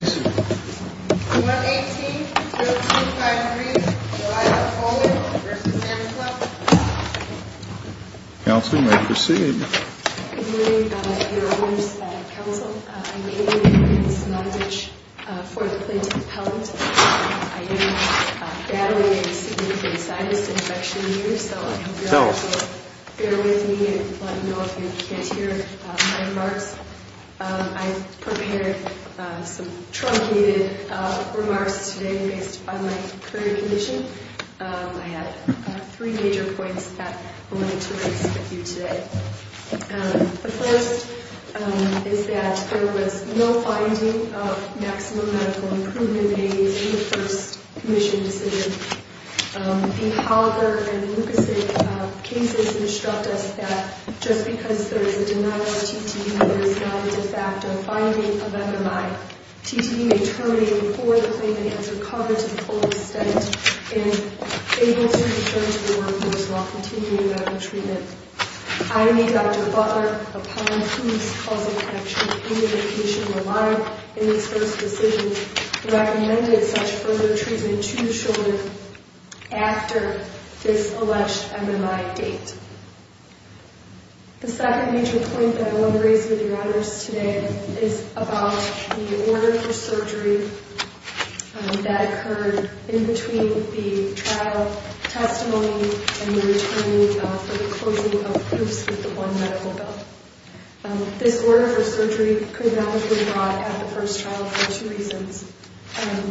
1-18-0253 Delilah Coleman v. Santa Claus Council may proceed. Good morning, Your Honors Council. I'm Amy Williams-Mondage, 4th Plaintiff Appellant. I am battling a significant sinus infection here, so I hope you all will bear with me and let me know if you can't hear my remarks. I've prepared some truncated remarks today based on my current condition. I have three major points that I wanted to raise with you today. The first is that there was no finding of maximum medical improvement aids in the first commission decision. The Holger and Lukasik cases instruct us that just because there is a denial of TTE, there is not a de facto finding of MMI. TTE may terminate before the claimant has recovered to the full extent and able to return to the workers while continuing medical treatment. I, Dr. Butler, upon whose causal connection and identification were not in this first decision, recommended such further treatment to the shoulder after this alleged MMI date. The second major point that I want to raise with you, Your Honors, today is about the order for surgery that occurred in between the trial testimony and the return for the closing of proofs with the one medical bill. This order for surgery could not have been brought at the first trial for two reasons.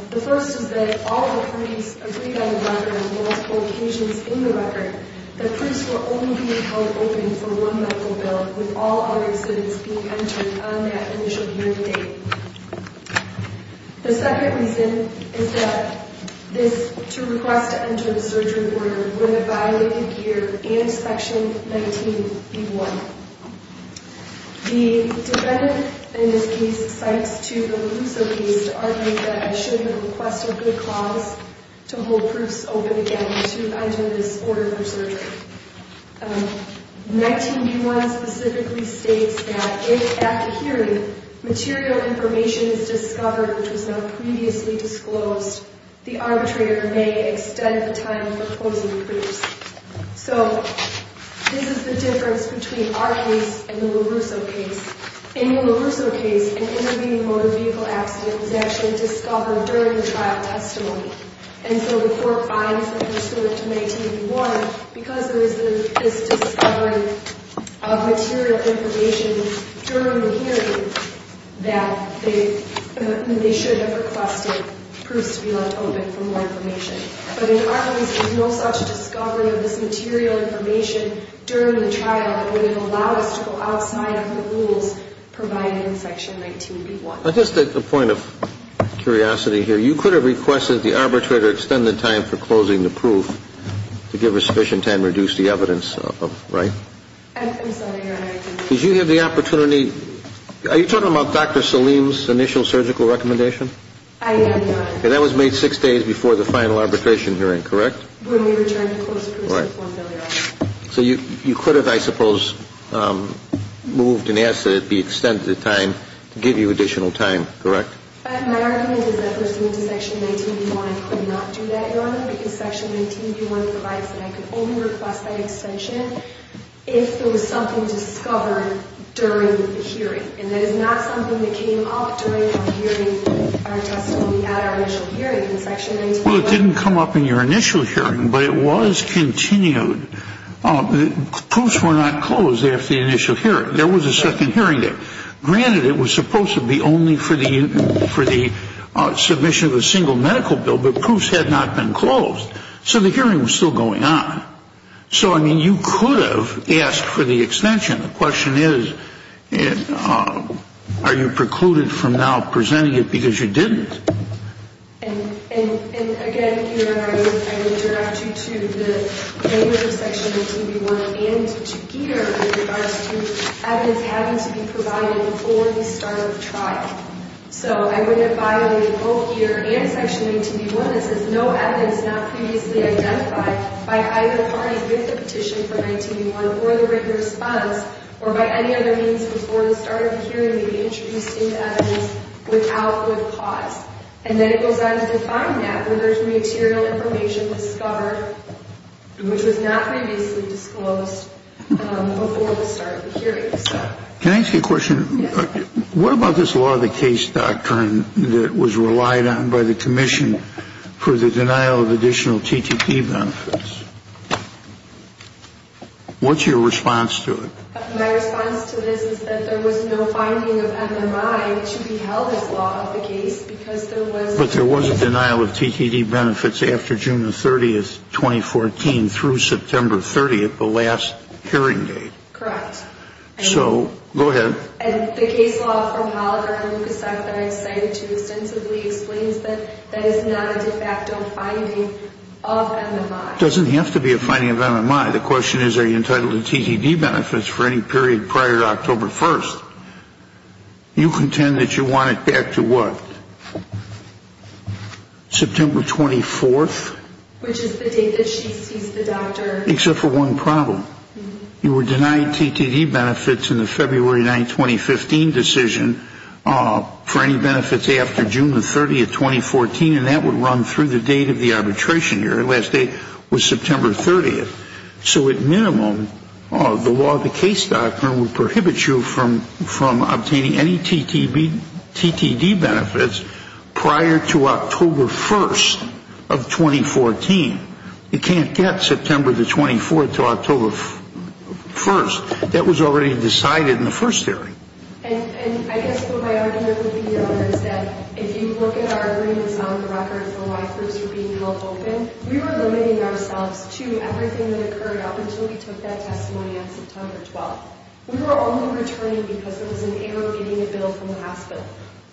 The first is that if all attorneys agreed on the record on multiple occasions in the record, the proofs will only be held open for one medical bill with all other students being entered on that initial hearing date. The second reason is that this, to request to enter the surgery order, would have violated year and section 19B1. The defendant in this case cites to the loser case to argue that I should have requested good cause to hold proofs open again to enter this order for surgery. 19B1 specifically states that if, after hearing, material information is discovered which was not previously disclosed, the arbitrator may extend the time for closing proofs. So this is the difference between our case and the LaRusso case. In the LaRusso case, an intervening motor vehicle accident was actually discovered during the trial testimony. And so before fines were restored to 19B1, because there is this discovery of material information during the hearing that they should have requested proofs to be left open for more information. But in our case, there is no such discovery of this material information during the trial that would have allowed us to go outside of the rules provided in section 19B1. Just a point of curiosity here, you could have requested the arbitrator extend the time for closing the proof to give a sufficient time to reduce the evidence, right? I'm sorry, Your Honor. Did you have the opportunity, are you talking about Dr. Salim's initial surgical recommendation? I have not. And that was made six days before the final arbitration hearing, correct? When we returned the closed proofs to the court earlier on. Right. So you could have, I suppose, moved and asked that it be extended the time to give you additional time, correct? My argument is that pursuant to section 19B1, I could not do that, Your Honor, because section 19B1 provides that I could only request that extension if there was something discovered during the hearing. And that is not something that came up during our hearing, our testimony at our initial hearing in section 19B1. Well, it didn't come up in your initial hearing, but it was continued. Proofs were not closed after the initial hearing. There was a second hearing there. Granted, it was supposed to be only for the submission of a single medical bill, but proofs had not been closed. So the hearing was still going on. So, I mean, you could have asked for the extension. The question is, are you precluded from now presenting it because you didn't? And, again, Your Honor, I would direct you to the language of section 19B1 and to Geeter with regards to evidence having to be provided before the start of trial. So I would have violated both Geeter and section 19B1. This is no evidence not previously identified by either the client with the petition for 19B1 or the written response or by any other means before the start of the hearing to be introduced into evidence without good cause. And then it goes on to define that with regard to material information discovered, which was not previously disclosed before the start of the hearing. Can I ask you a question? Yes. What about this law of the case doctrine that was relied on by the commission for the denial of additional TTT benefits? What's your response to it? My response to this is that there was no finding of MMI to be held as law of the case because there was... But there was a denial of TTT benefits after June 30, 2014, through September 30, the last hearing date. Correct. So, go ahead. And the case law from Hollader and Lukasak that I've cited too extensively explains that that is not a de facto finding of MMI. It doesn't have to be a finding of MMI. The question is, are you entitled to TTT benefits for any period prior to October 1st? You contend that you want it back to what? September 24th? Which is the date that she sees the doctor. Except for one problem. You were denied TTT benefits in the February 9, 2015 decision for any benefits after June 30, 2014, and that would run through the date of the arbitration hearing. The last date was September 30th. So, at minimum, the law of the case doctrine would prohibit you from obtaining any TTT benefits prior to October 1st of 2014. You can't get September 24th to October 1st. That was already decided in the first hearing. And I guess what my argument would be, Your Honor, is that if you look at our agreements on the records of why groups were being held open, we were limiting ourselves to everything that occurred up until we took that testimony on September 12th. We were only returning because there was an error in getting a bill from the hospital.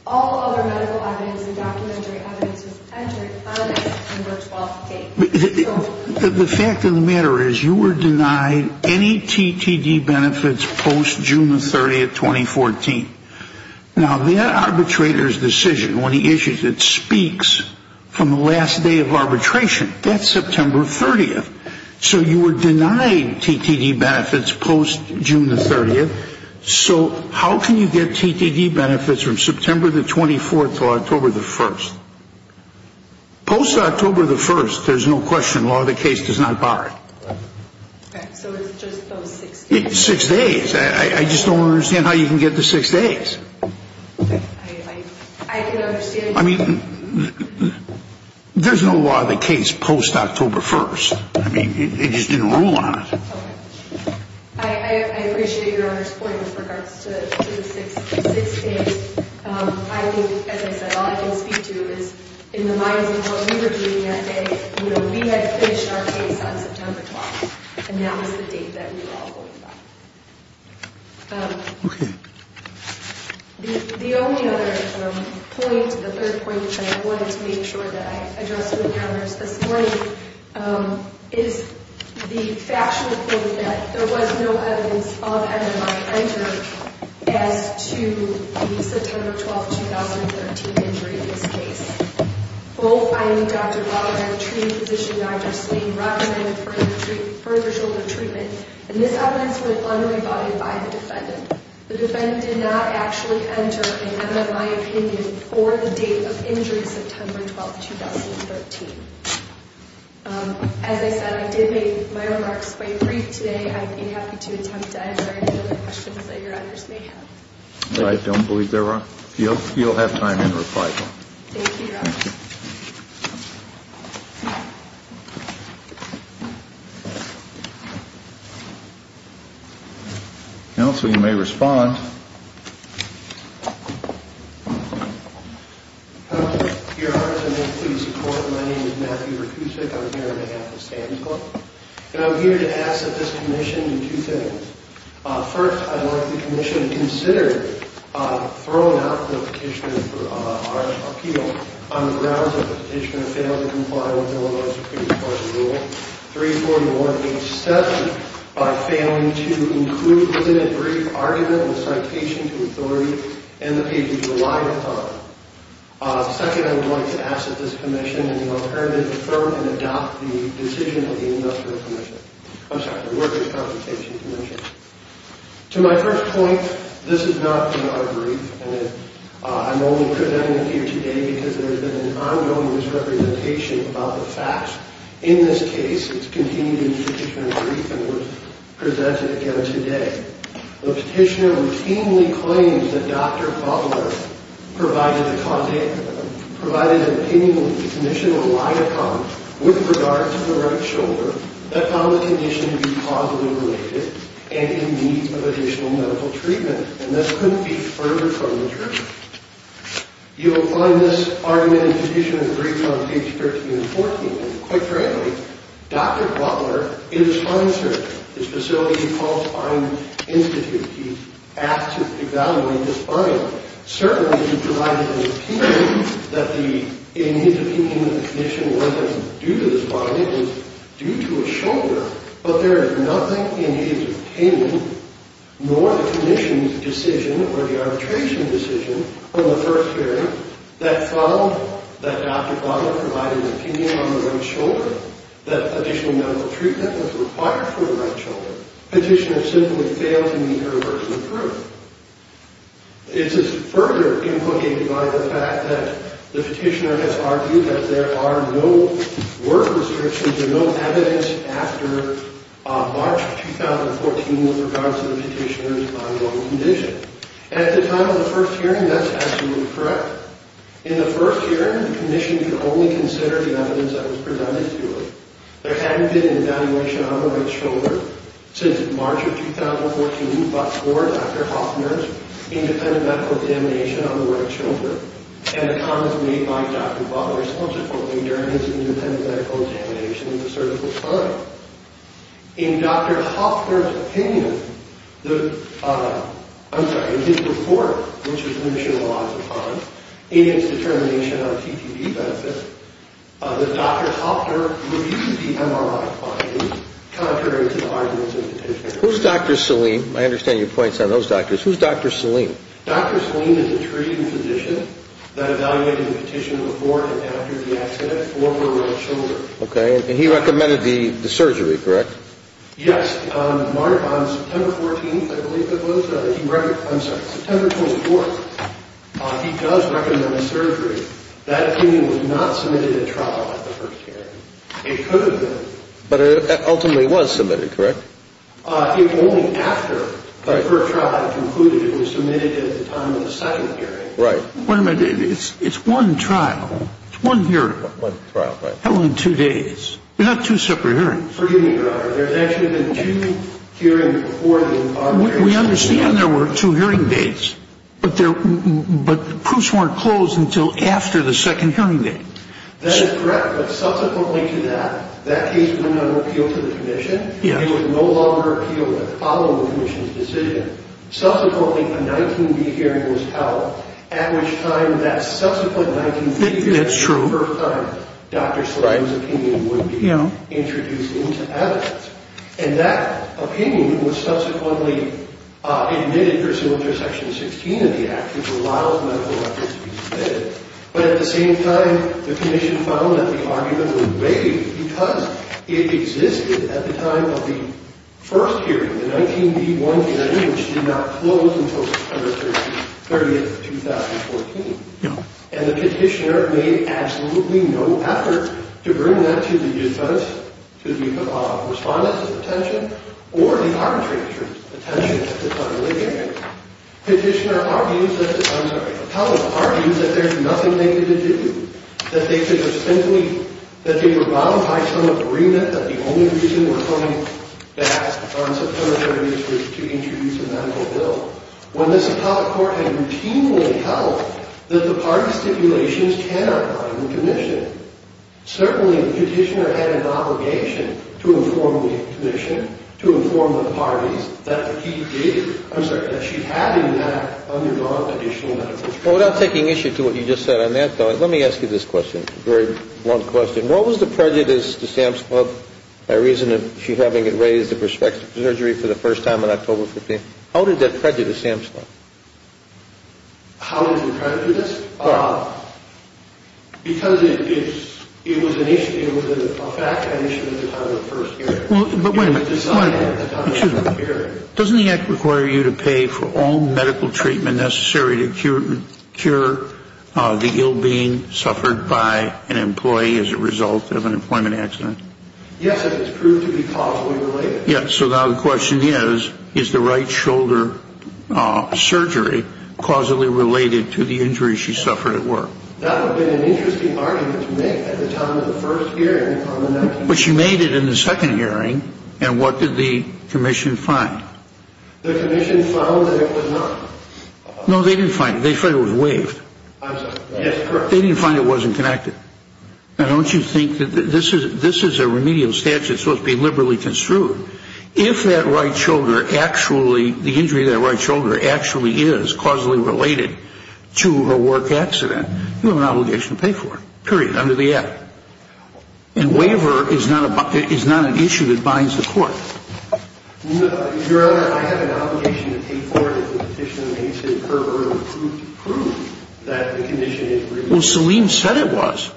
All other medical evidence and documentary evidence was entered on that September 12th date. The fact of the matter is, you were denied any TTT benefits post-June 30, 2014. Now, that arbitrator's decision, when he issues it, speaks from the last day of arbitration. That's September 30th. So you were denied TTT benefits post-June 30th. So how can you get TTT benefits from September 24th to October 1st? Post-October 1st, there's no question, law of the case does not bar it. So it's just those six days? Six days. I just don't understand how you can get to six days. I can understand that. I mean, there's no law of the case post-October 1st. I mean, they just didn't rule on it. I appreciate Your Honor's point with regards to the six days. I think, as I said, all I can speak to is, in the minds of what we were doing that day, we had finished our case on September 12th, and that was the date that we were all going by. Okay. The only other point, the third point that I wanted to make sure that I addressed with Your Honors this morning, is the factional point that there was no evidence of MMI entered as to the September 12th, 2013 injury in this case. Both I and Dr. Rotherham, treating physician Dr. Slain, Rotherham had further shoulder treatment, and this evidence was unrebutted by the defendant. The defendant did not actually enter an MMI opinion for the date of injury September 12th, 2013. As I said, I did make my remarks quite brief today. I'd be happy to attempt to answer any other questions that Your Honors may have. I don't believe there are. You'll have time in reply. Thank you, Your Honor. Thank you. Thank you. Counsel, you may respond. Your Honors, I may please report. My name is Matthew Rutusik. I'm here on behalf of Stan's Club, and I'm here to ask that this commission do two things. First, I'd like the commission to consider throwing out the petition for our appeal on the grounds that the petitioner failed to comply with Illinois Superior Court's rule 34187 by failing to include the limited brief argument in the citation to authority and the pages relied upon. Second, I would like to ask that this commission in the alternative firm can adopt the decision of the industrial commission. I'm sorry, the workers' consultation commission. To my first point, this is not in our brief, and I'm only presenting it here today because there has been an ongoing misrepresentation about the facts. In this case, it's continued in the petitioner's brief and was presented again today. The petitioner routinely claims that Dr. Butler provided an opinion with the commission relied upon with regard to the right shoulder that found the condition to be causally related and in need of additional medical treatment, and this couldn't be further from the truth. You will find this argument in the petitioner's brief on pages 13 and 14. Quite frankly, Dr. Butler is a spine surgeon. His facility is called Spine Institute. He asked to evaluate the spine. Certainly, he provided an opinion that the in need of treatment of the condition wasn't due to the spine. It was due to a shoulder, but there is nothing in his opinion, nor the commission's decision or the arbitration decision on the first hearing, that found that Dr. Butler provided an opinion on the right shoulder, that additional medical treatment was required for the right shoulder. The petitioner simply failed to meet her version of truth. This is further implicated by the fact that the petitioner has argued that there are no work restrictions or no evidence after March 2014 with regards to the petitioner's ongoing condition. At the time of the first hearing, that's absolutely correct. In the first hearing, the commission could only consider the evidence that was presented to it. There hadn't been an evaluation on the right shoulder since March of 2014, but for Dr. Hoffner's independent medical examination on the right shoulder, and a comment made by Dr. Butler subsequently during his independent medical examination of the surgical spine. In Dr. Hoffner's opinion, I'm sorry, in his report, which the commission relies upon in its determination of TTP benefits, that Dr. Hoffner reviewed the MRI findings contrary to the arguments of the petitioner. Who's Dr. Salim? I understand your points on those doctors. Who's Dr. Salim? Dr. Salim is a treating physician that evaluated the petition before and after the accident for the right shoulder. Okay, and he recommended the surgery, correct? Yes. On September 14th, I believe it was, I'm sorry, September 24th, he does recommend a surgery. That opinion was not submitted at trial at the first hearing. It could have been. But it ultimately was submitted, correct? It was only after the first trial had concluded it was submitted at the time of the second hearing. Wait a minute. It's one trial. It's one hearing. One trial, right. Held in two days. They're not two separate hearings. Forgive me, Your Honor. There's actually been two hearings before the recovery. We understand there were two hearing dates, but the proofs weren't closed until after the second hearing date. That is correct, but subsequently to that, that case went on appeal to the commission. It was no longer appealed to follow the commission's decision. Subsequently, a 19-D hearing was held, at which time that subsequent 19-D hearing, the first time Dr. Slater's opinion would be introduced into evidence. And that opinion was subsequently admitted pursuant to Section 16 of the Act, which allows medical records to be submitted. But at the same time, the commission found that the argument was vague because it existed at the time of the first hearing, the 19-D-1 hearing, which did not close until September 30th, 2014. And the petitioner made absolutely no effort to bring that to the defense, to the respondents' attention, or the arbitrators' attention at the time of the hearing. Petitioner argues that, I'm sorry, the teller argues that there's nothing they could do, that they could have simply, that they were bound by some agreement that the only reason they were coming back on September 30th was to introduce a medical bill, when this appellate court had routinely held that the parties' stipulations cannot bind the commission. Certainly, the petitioner had an obligation to inform the commission, to inform the parties, that he did, I'm sorry, that she had in that undergone additional medical treatment. Well, without taking issue to what you just said on that thought, let me ask you this question, a very blunt question. What was the prejudice to Sam's Club by reason of she having it raised at prospective surgery for the first time on October 15th? How did that prejudice Sam's Club? How did it prejudice? Because it was an issue, it was a fact, an issue at the time of the first hearing. Well, but wait a minute. Excuse me. Doesn't the act require you to pay for all medical treatment necessary to cure the ill being suffered by an employee as a result of an employment accident? Yes, and it's proved to be causally related. Yes, so now the question is, is the right shoulder surgery causally related to the injury she suffered at work? That would have been an interesting argument to make at the time of the first hearing. But she made it in the second hearing, and what did the commission find? The commission found that it was not. No, they didn't find it. They found it was waived. I'm sorry. Yes, correct. They didn't find it wasn't connected. Now, don't you think that this is a remedial statute that's supposed to be liberally construed. If that right shoulder actually, the injury to that right shoulder actually is causally related to her work accident, you have an obligation to pay for it, period, under the act. And waiver is not an issue that binds the court. No, Your Honor, I have an obligation to pay for it if the petition makes it curb or improve to prove that the condition is remedial. Well, Salim said it was.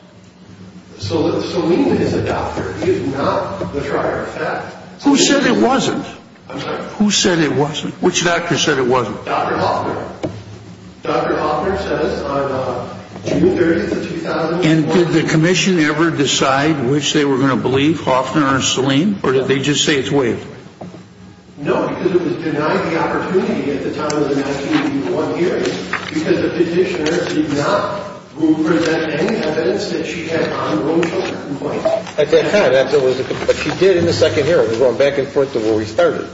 Salim is a doctor. He is not the prior effect. Who said it wasn't? I'm sorry. Who said it wasn't? Which doctor said it wasn't? Dr. Hoffner. Dr. Hoffner says on June 30, 2001. And did the commission ever decide which they were going to believe, Hoffner or Salim, or did they just say it's waived? No, because it was denied the opportunity at the time of the 1981 hearing because the petitioner did not prove or present any evidence that she had on Rochelle. At that time, that was what she did in the second hearing. It was going back and forth to where we started.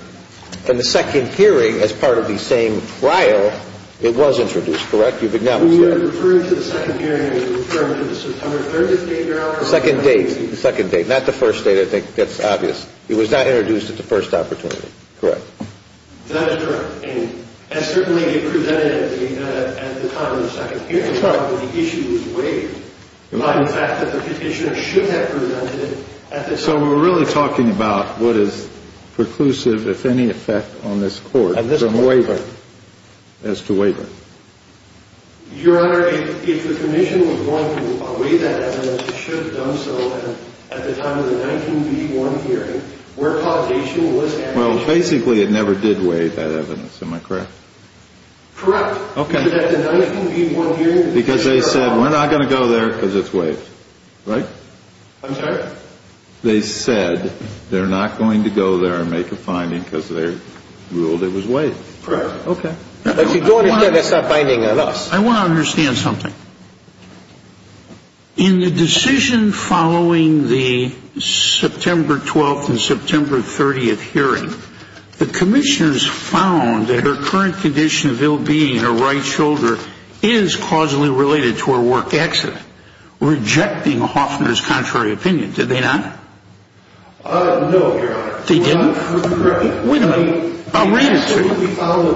In the second hearing, as part of the same trial, it was introduced, correct? You've acknowledged that. Are you referring to the second hearing or are you referring to the September 30th date, Your Honor? The second date. The second date, not the first date. I think that's obvious. It was not introduced at the first opportunity, correct? That is correct. And certainly it presented at the time of the second hearing. That's right. But the issue was waived by the fact that the petitioner should have presented at the time. So we're really talking about what is preclusive, if any, effect on this court as to waiver. Your Honor, if the commission was going to waive that evidence, it should have done so at the time of the 1981 hearing where causation was added. Well, basically, it never did waive that evidence, am I correct? Correct. Okay. But at the 1981 hearing, the petitioner... Because they said, we're not going to go there because it's waived, right? I'm sorry? Correct. They said they're not going to go there and make a finding because they ruled it was waived. Correct. Okay. But you don't understand that's not binding on us. I want to understand something. In the decision following the September 12th and September 30th hearing, the commissioners found that her current condition of ill-being in her right shoulder is causally related to her work accident, rejecting Hoffner's contrary opinion, did they not? No, Your Honor. They didn't? Correct. Wait a minute. I'll read it to you. They said we found the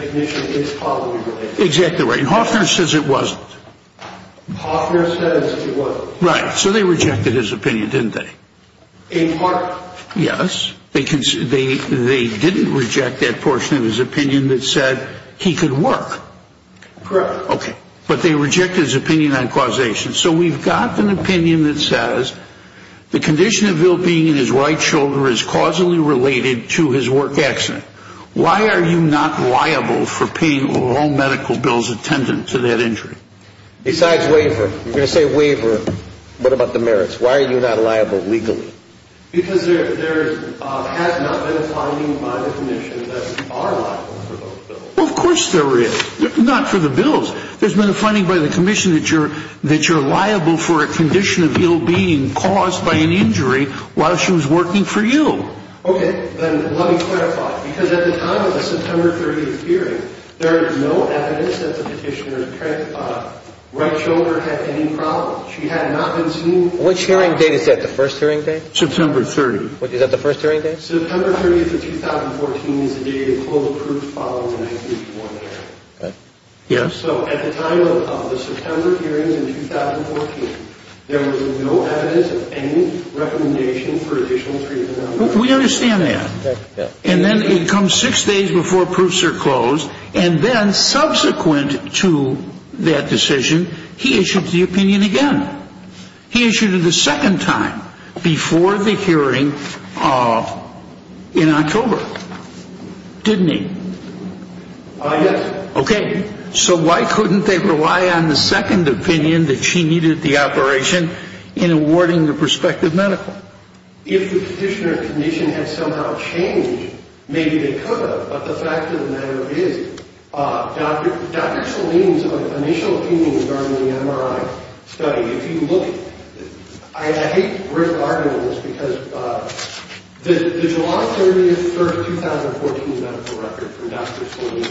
condition is causally related. Exactly right. Hoffner says it wasn't. Hoffner says it wasn't. Right. So they rejected his opinion, didn't they? In part. Yes. They didn't reject that portion of his opinion that said he could work. Correct. Okay. But they rejected his opinion on causation. So we've got an opinion that says the condition of ill-being in his right shoulder is causally related to his work accident. Why are you not liable for paying all medical bills attendant to that injury? Besides waiver. You're going to say waiver. What about the merits? Why are you not liable legally? Because there has not been a finding by the commission that we are liable for those bills. Well, of course there is. Not for the bills. There's been a finding by the commission that you're liable for a condition of ill-being caused by an injury while she was working for you. Okay. Then let me clarify. Because at the time of the September 30th hearing, there is no evidence that the petitioner's right shoulder had any problems. She had not been seen. Which hearing date is that? The first hearing date? September 30th. Is that the first hearing date? September 30th of 2014 is the date of full proof following the 1931 hearing. Okay. Yes? So at the time of the September hearings in 2014, there was no evidence of any recommendation for additional treatment on that. We understand that. And then it comes six days before proofs are closed. And then subsequent to that decision, he issued the opinion again. He issued it a second time before the hearing in October, didn't he? Yes. Okay. So why couldn't they rely on the second opinion that she needed the operation in awarding the prospective medical? If the petitioner's condition had somehow changed, maybe they could have. But the fact of the matter is, Dr. Salim's initial opinion regarding the MRI study, if you look at it, the July 30th, 2014 medical record from Dr. Salim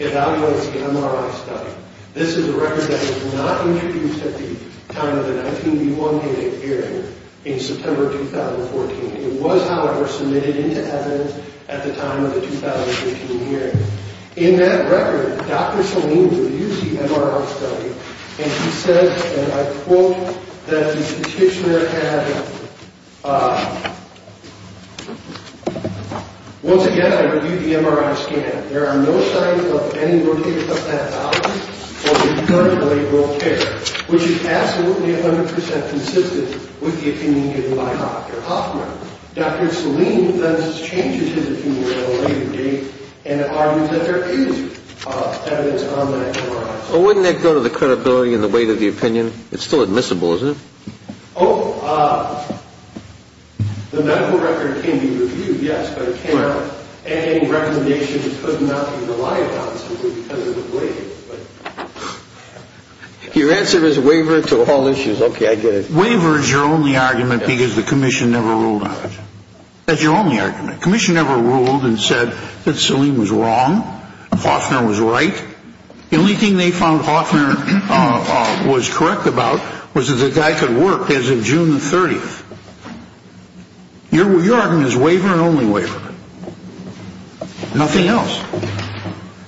evaluates the MRI study. This is a record that was not introduced at the time of the 1931 hearing in September 2014. It was, however, submitted into evidence at the time of the 2013 hearing. In that record, Dr. Salim reviews the MRI study, and he says, and I quote, that the petitioner had, once again, I review the MRI scan. There are no signs of any worthiness of that value or concern for laboral care, which is absolutely 100 percent consistent with the opinion given by Dr. Hoffman. Dr. Salim thus changes his opinion at a later date and argues that there is evidence on that MRI. Well, wouldn't that go to the credibility and the weight of the opinion? It's still admissible, isn't it? Oh, the medical record can be reviewed, yes, but it can't have any recommendation to put nothing to lie about simply because of the weight. Your answer is waiver to all issues. Okay, I get it. Waiver is your only argument because the commission never ruled on it. That's your only argument. Commission never ruled and said that Salim was wrong, Hoffman was right. The only thing they found Hoffman was correct about was that the guy could work as of June the 30th. Your argument is waiver and only waiver. Nothing else.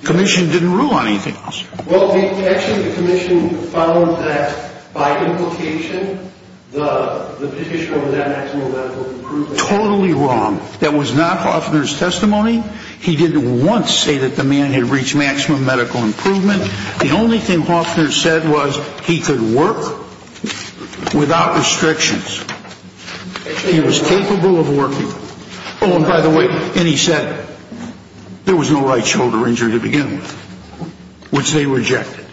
Commission didn't rule on anything else. Well, actually the commission found that by implication the petitioner was at maximum medical improvement. Totally wrong. That was not Hoffman's testimony. He didn't once say that the man had reached maximum medical improvement. The only thing Hoffman said was he could work without restrictions. He was capable of working. Oh, and by the way, and he said there was no right shoulder injury to begin with, which they rejected.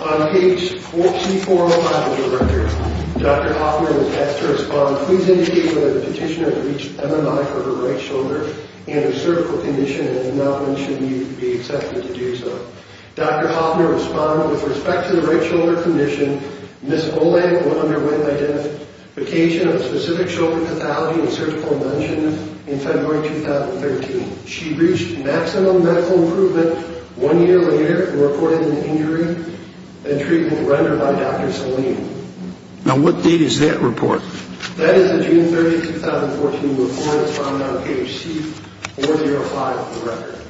On page C405 of the record, Dr. Hoffman was asked to respond, please indicate whether the petitioner had reached MMI for her right shoulder and her cervical condition and did not mention he would be accepted to do so. Dr. Hoffman responded, with respect to the right shoulder condition, Ms. Olay underwent identification of specific shoulder pathology and cervical condition in February 2013. She reached maximum medical improvement one year later and reported an injury and treatment rendered by Dr. Salim. Now what date is that report? That is a June 30th, 2014 report found on page C405 of the record.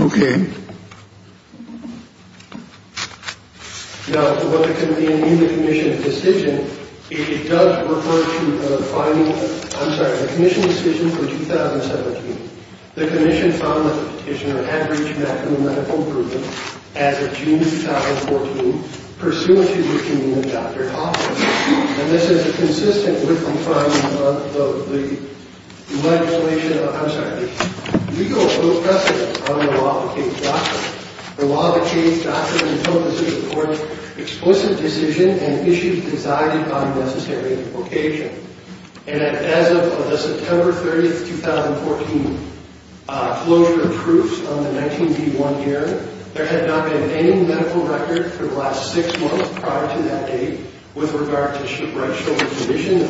Okay. Now what the committee in the commission decision, it does refer to the finding, I'm sorry, the commission decision for 2017. The commission found that the petitioner had reached maximum medical improvement as of June 2014, pursuant to the opinion of Dr. Hoffman. And this is consistent with the finding of the legislation, I'm sorry, legal precedent on the law to change doctrines. The law to change doctrines in total decision courts explicit decision and issues decided on a necessary occasion. And as of the September 30th, 2014 closure of proofs on the 19B1 error, there had not been any medical record for the last six months prior to that date with regard to right shoulder condition.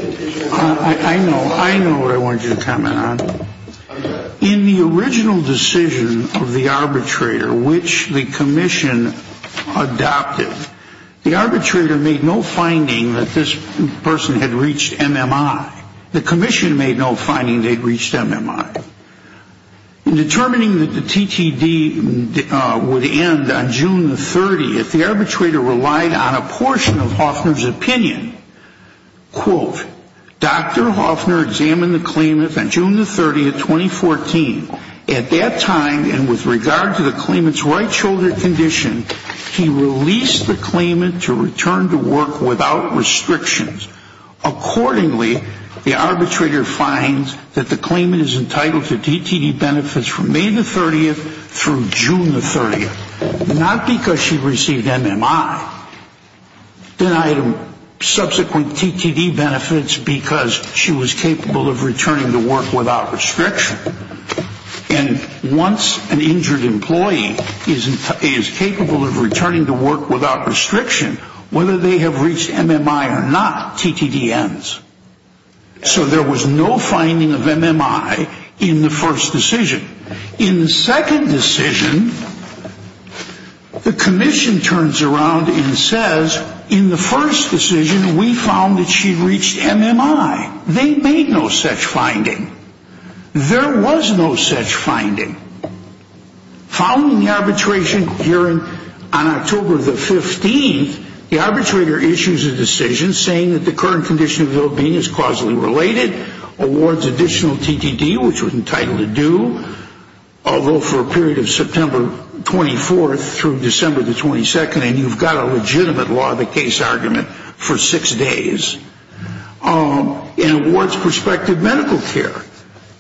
I know. I know what I want you to comment on. Okay. In the original decision of the arbitrator, which the commission adopted, the arbitrator made no finding that this person had reached MMI. The commission made no finding they'd reached MMI. In determining that the TTD would end on June the 30th, the arbitrator relied on a portion of Hoffman's opinion. Quote, Dr. Hoffman examined the claimant on June the 30th, 2014. At that time and with regard to the claimant's right shoulder condition, he released the claimant to return to work without restrictions. Accordingly, the arbitrator finds that the claimant is entitled to TTD benefits from May the 30th through June the 30th. Not because she received MMI. Subsequent TTD benefits because she was capable of returning to work without restriction. And once an injured employee is capable of returning to work without restriction, whether they have reached MMI or not, TTD ends. So there was no finding of MMI in the first decision. In the second decision, the commission turns around and says, in the first decision we found that she reached MMI. They made no such finding. There was no such finding. Following the arbitration hearing on October the 15th, the arbitrator issues a decision saying that the current condition of the ill-being is causally related, awards additional TTD, which was entitled to due, although for a period of September 24th through December the 22nd, and you've got a legitimate law of the case argument for six days, and awards prospective medical care.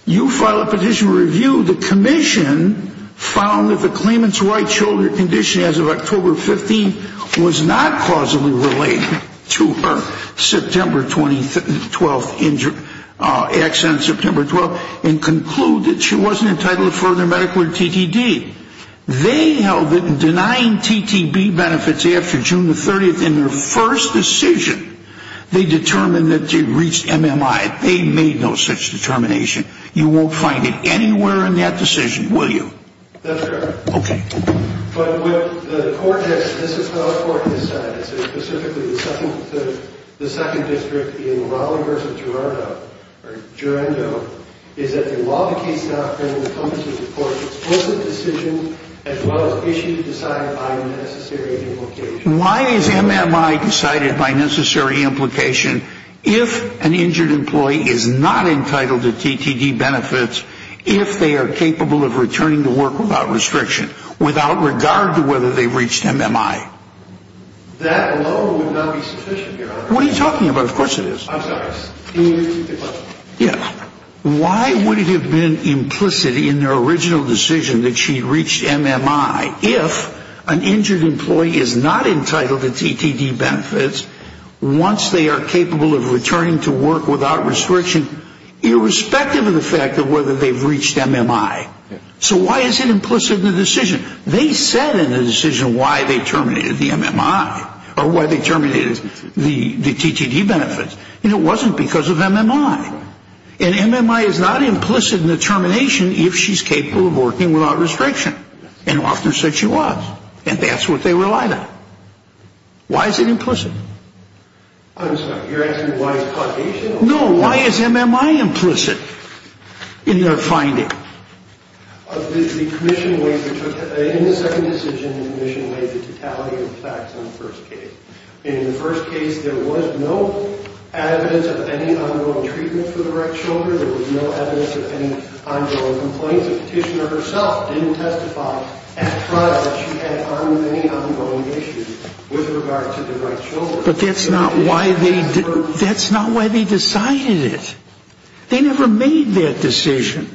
You file a petition of review. The commission found that the claimant's right shoulder condition as of October 15th was not causally related to her September 20th, 12th injury, accident September 12th, and concluded she wasn't entitled to further medical or TTD. They held that in denying TTB benefits after June the 30th in their first decision, they determined that they reached MMI. They made no such determination. You won't find it anywhere in that decision, will you? That's correct. Okay. But what the court has said, this is what the court has said, specifically the second district being Raleigh versus Gerardo, or Gerando, is that the law of the case doctrine encompasses both a decision as well as issues decided by a necessary implication. Why is MMI decided by necessary implication if an injured employee is not entitled to TTD benefits if they are capable of returning to work without restriction, without regard to whether they've reached MMI? That alone would not be sufficient, Your Honor. What are you talking about? Of course it is. I'm sorry. Can you repeat the question? Yeah. Why would it have been implicit in their original decision that she reached MMI if an injured employee is not entitled to TTD benefits once they are capable of returning to work without restriction, irrespective of the fact of whether they've reached MMI? So why is it implicit in the decision? They said in the decision why they terminated the MMI, or why they terminated the TTD benefits, and it wasn't because of MMI. And MMI is not implicit in the termination if she's capable of working without restriction. And often said she was. And that's what they relied on. Why is it implicit? I'm sorry. You're asking why it's causation? No. Why is MMI implicit in their finding? In the second decision, the commission waived the totality of the facts in the first case. In the first case, there was no evidence of any ongoing treatment for the wrecked shoulder. There was no evidence of any ongoing complaints. The petitioner herself didn't testify at trial that she had any ongoing issues with regard to the wrecked shoulder. But that's not why they decided it. They never made that decision.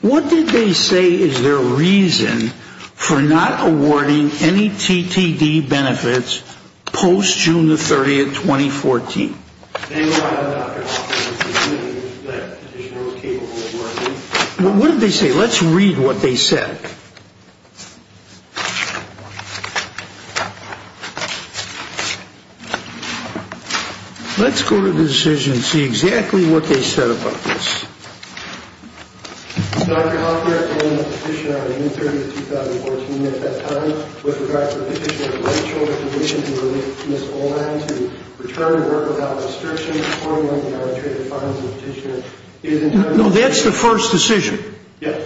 What did they say is their reason for not awarding any TTD benefits post-June 30, 2014? They relied on Dr. Hoffman's opinion that the petitioner was capable of working. What did they say? Let's read what they said. Let's go to the decision and see exactly what they said about this. No, that's the first decision.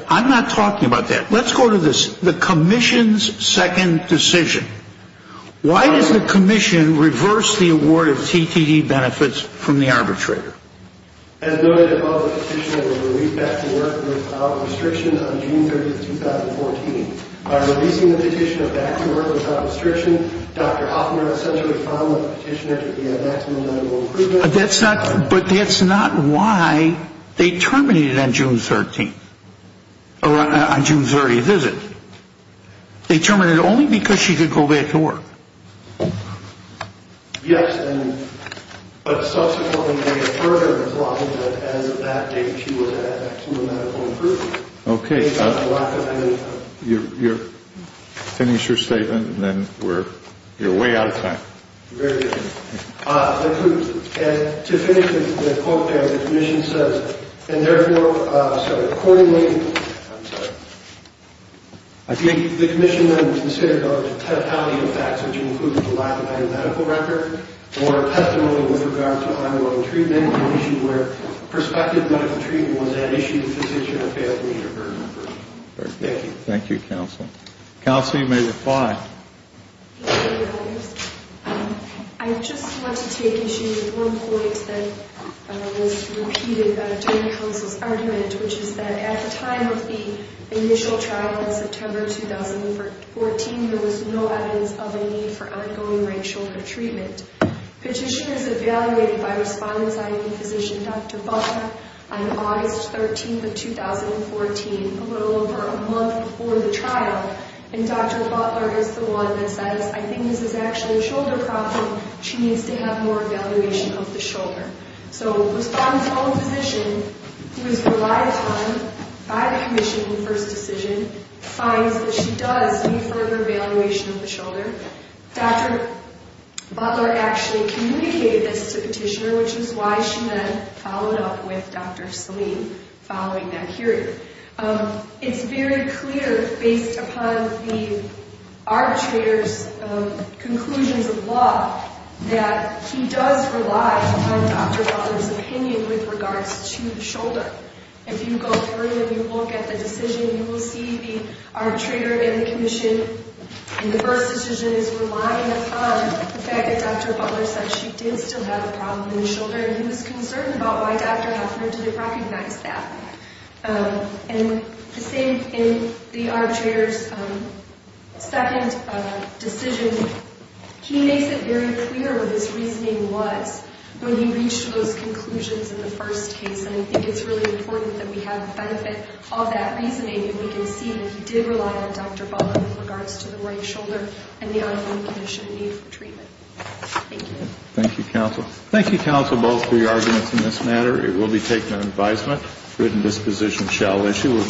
I'm not talking about that. Let's go to the commission's second decision. Why does the commission reverse the award of TTD benefits from the arbitrator? But that's not why they terminated on June 30. On June 30, is it? They terminated it only because she could go back to work. Yes, but subsequently they further implied that as of that date she would have actual medical improvement. Okay, finish your statement and then you're way out of time. Very good. To finish the quote there, the commission says, and therefore, so accordingly, I'm sorry, I think the commission then considered a totality of facts, which includes the lack of medical record or testimony with regard to ongoing treatment, an issue where prospective medical treatment was at issue with physician or family member. Thank you. Thank you, counsel. Counsel, you may reply. Thank you, your honors. I just want to take issue with one point that was repeated during counsel's argument, which is that at the time of the initial trial in September 2014, there was no evidence of a need for ongoing right shoulder treatment. Petition is evaluated by respondent's IV physician, Dr. Butler, on August 13th of 2014, a little over a month before the trial, and Dr. Butler is the one that says, I think this is actually a shoulder problem. She needs to have more evaluation of the shoulder. So respondent's own physician, who is relied on by the commission in first decision, finds that she does need further evaluation of the shoulder. Dr. Butler actually communicated this to petitioner, which is why she then followed up with Dr. Selene following that hearing. It's very clear, based upon the arbitrator's conclusions of law, that he does rely on Dr. Butler's opinion with regards to the shoulder. If you go through and you look at the decision, you will see the arbitrator and the commission in the first decision is relying upon the fact that Dr. Butler said she did still have a problem in the shoulder, and he was concerned about why Dr. Butler didn't recognize that. And the same in the arbitrator's second decision, he makes it very clear what his reasoning was when he reached those conclusions in the first case, and I think it's really important that we have the benefit of that reasoning, and we can see that he did rely on Dr. Butler with regards to the right shoulder Thank you. Thank you, counsel. Thank you, counsel, both for your arguments in this matter. It will be taken on advisement. Written disposition shall issue.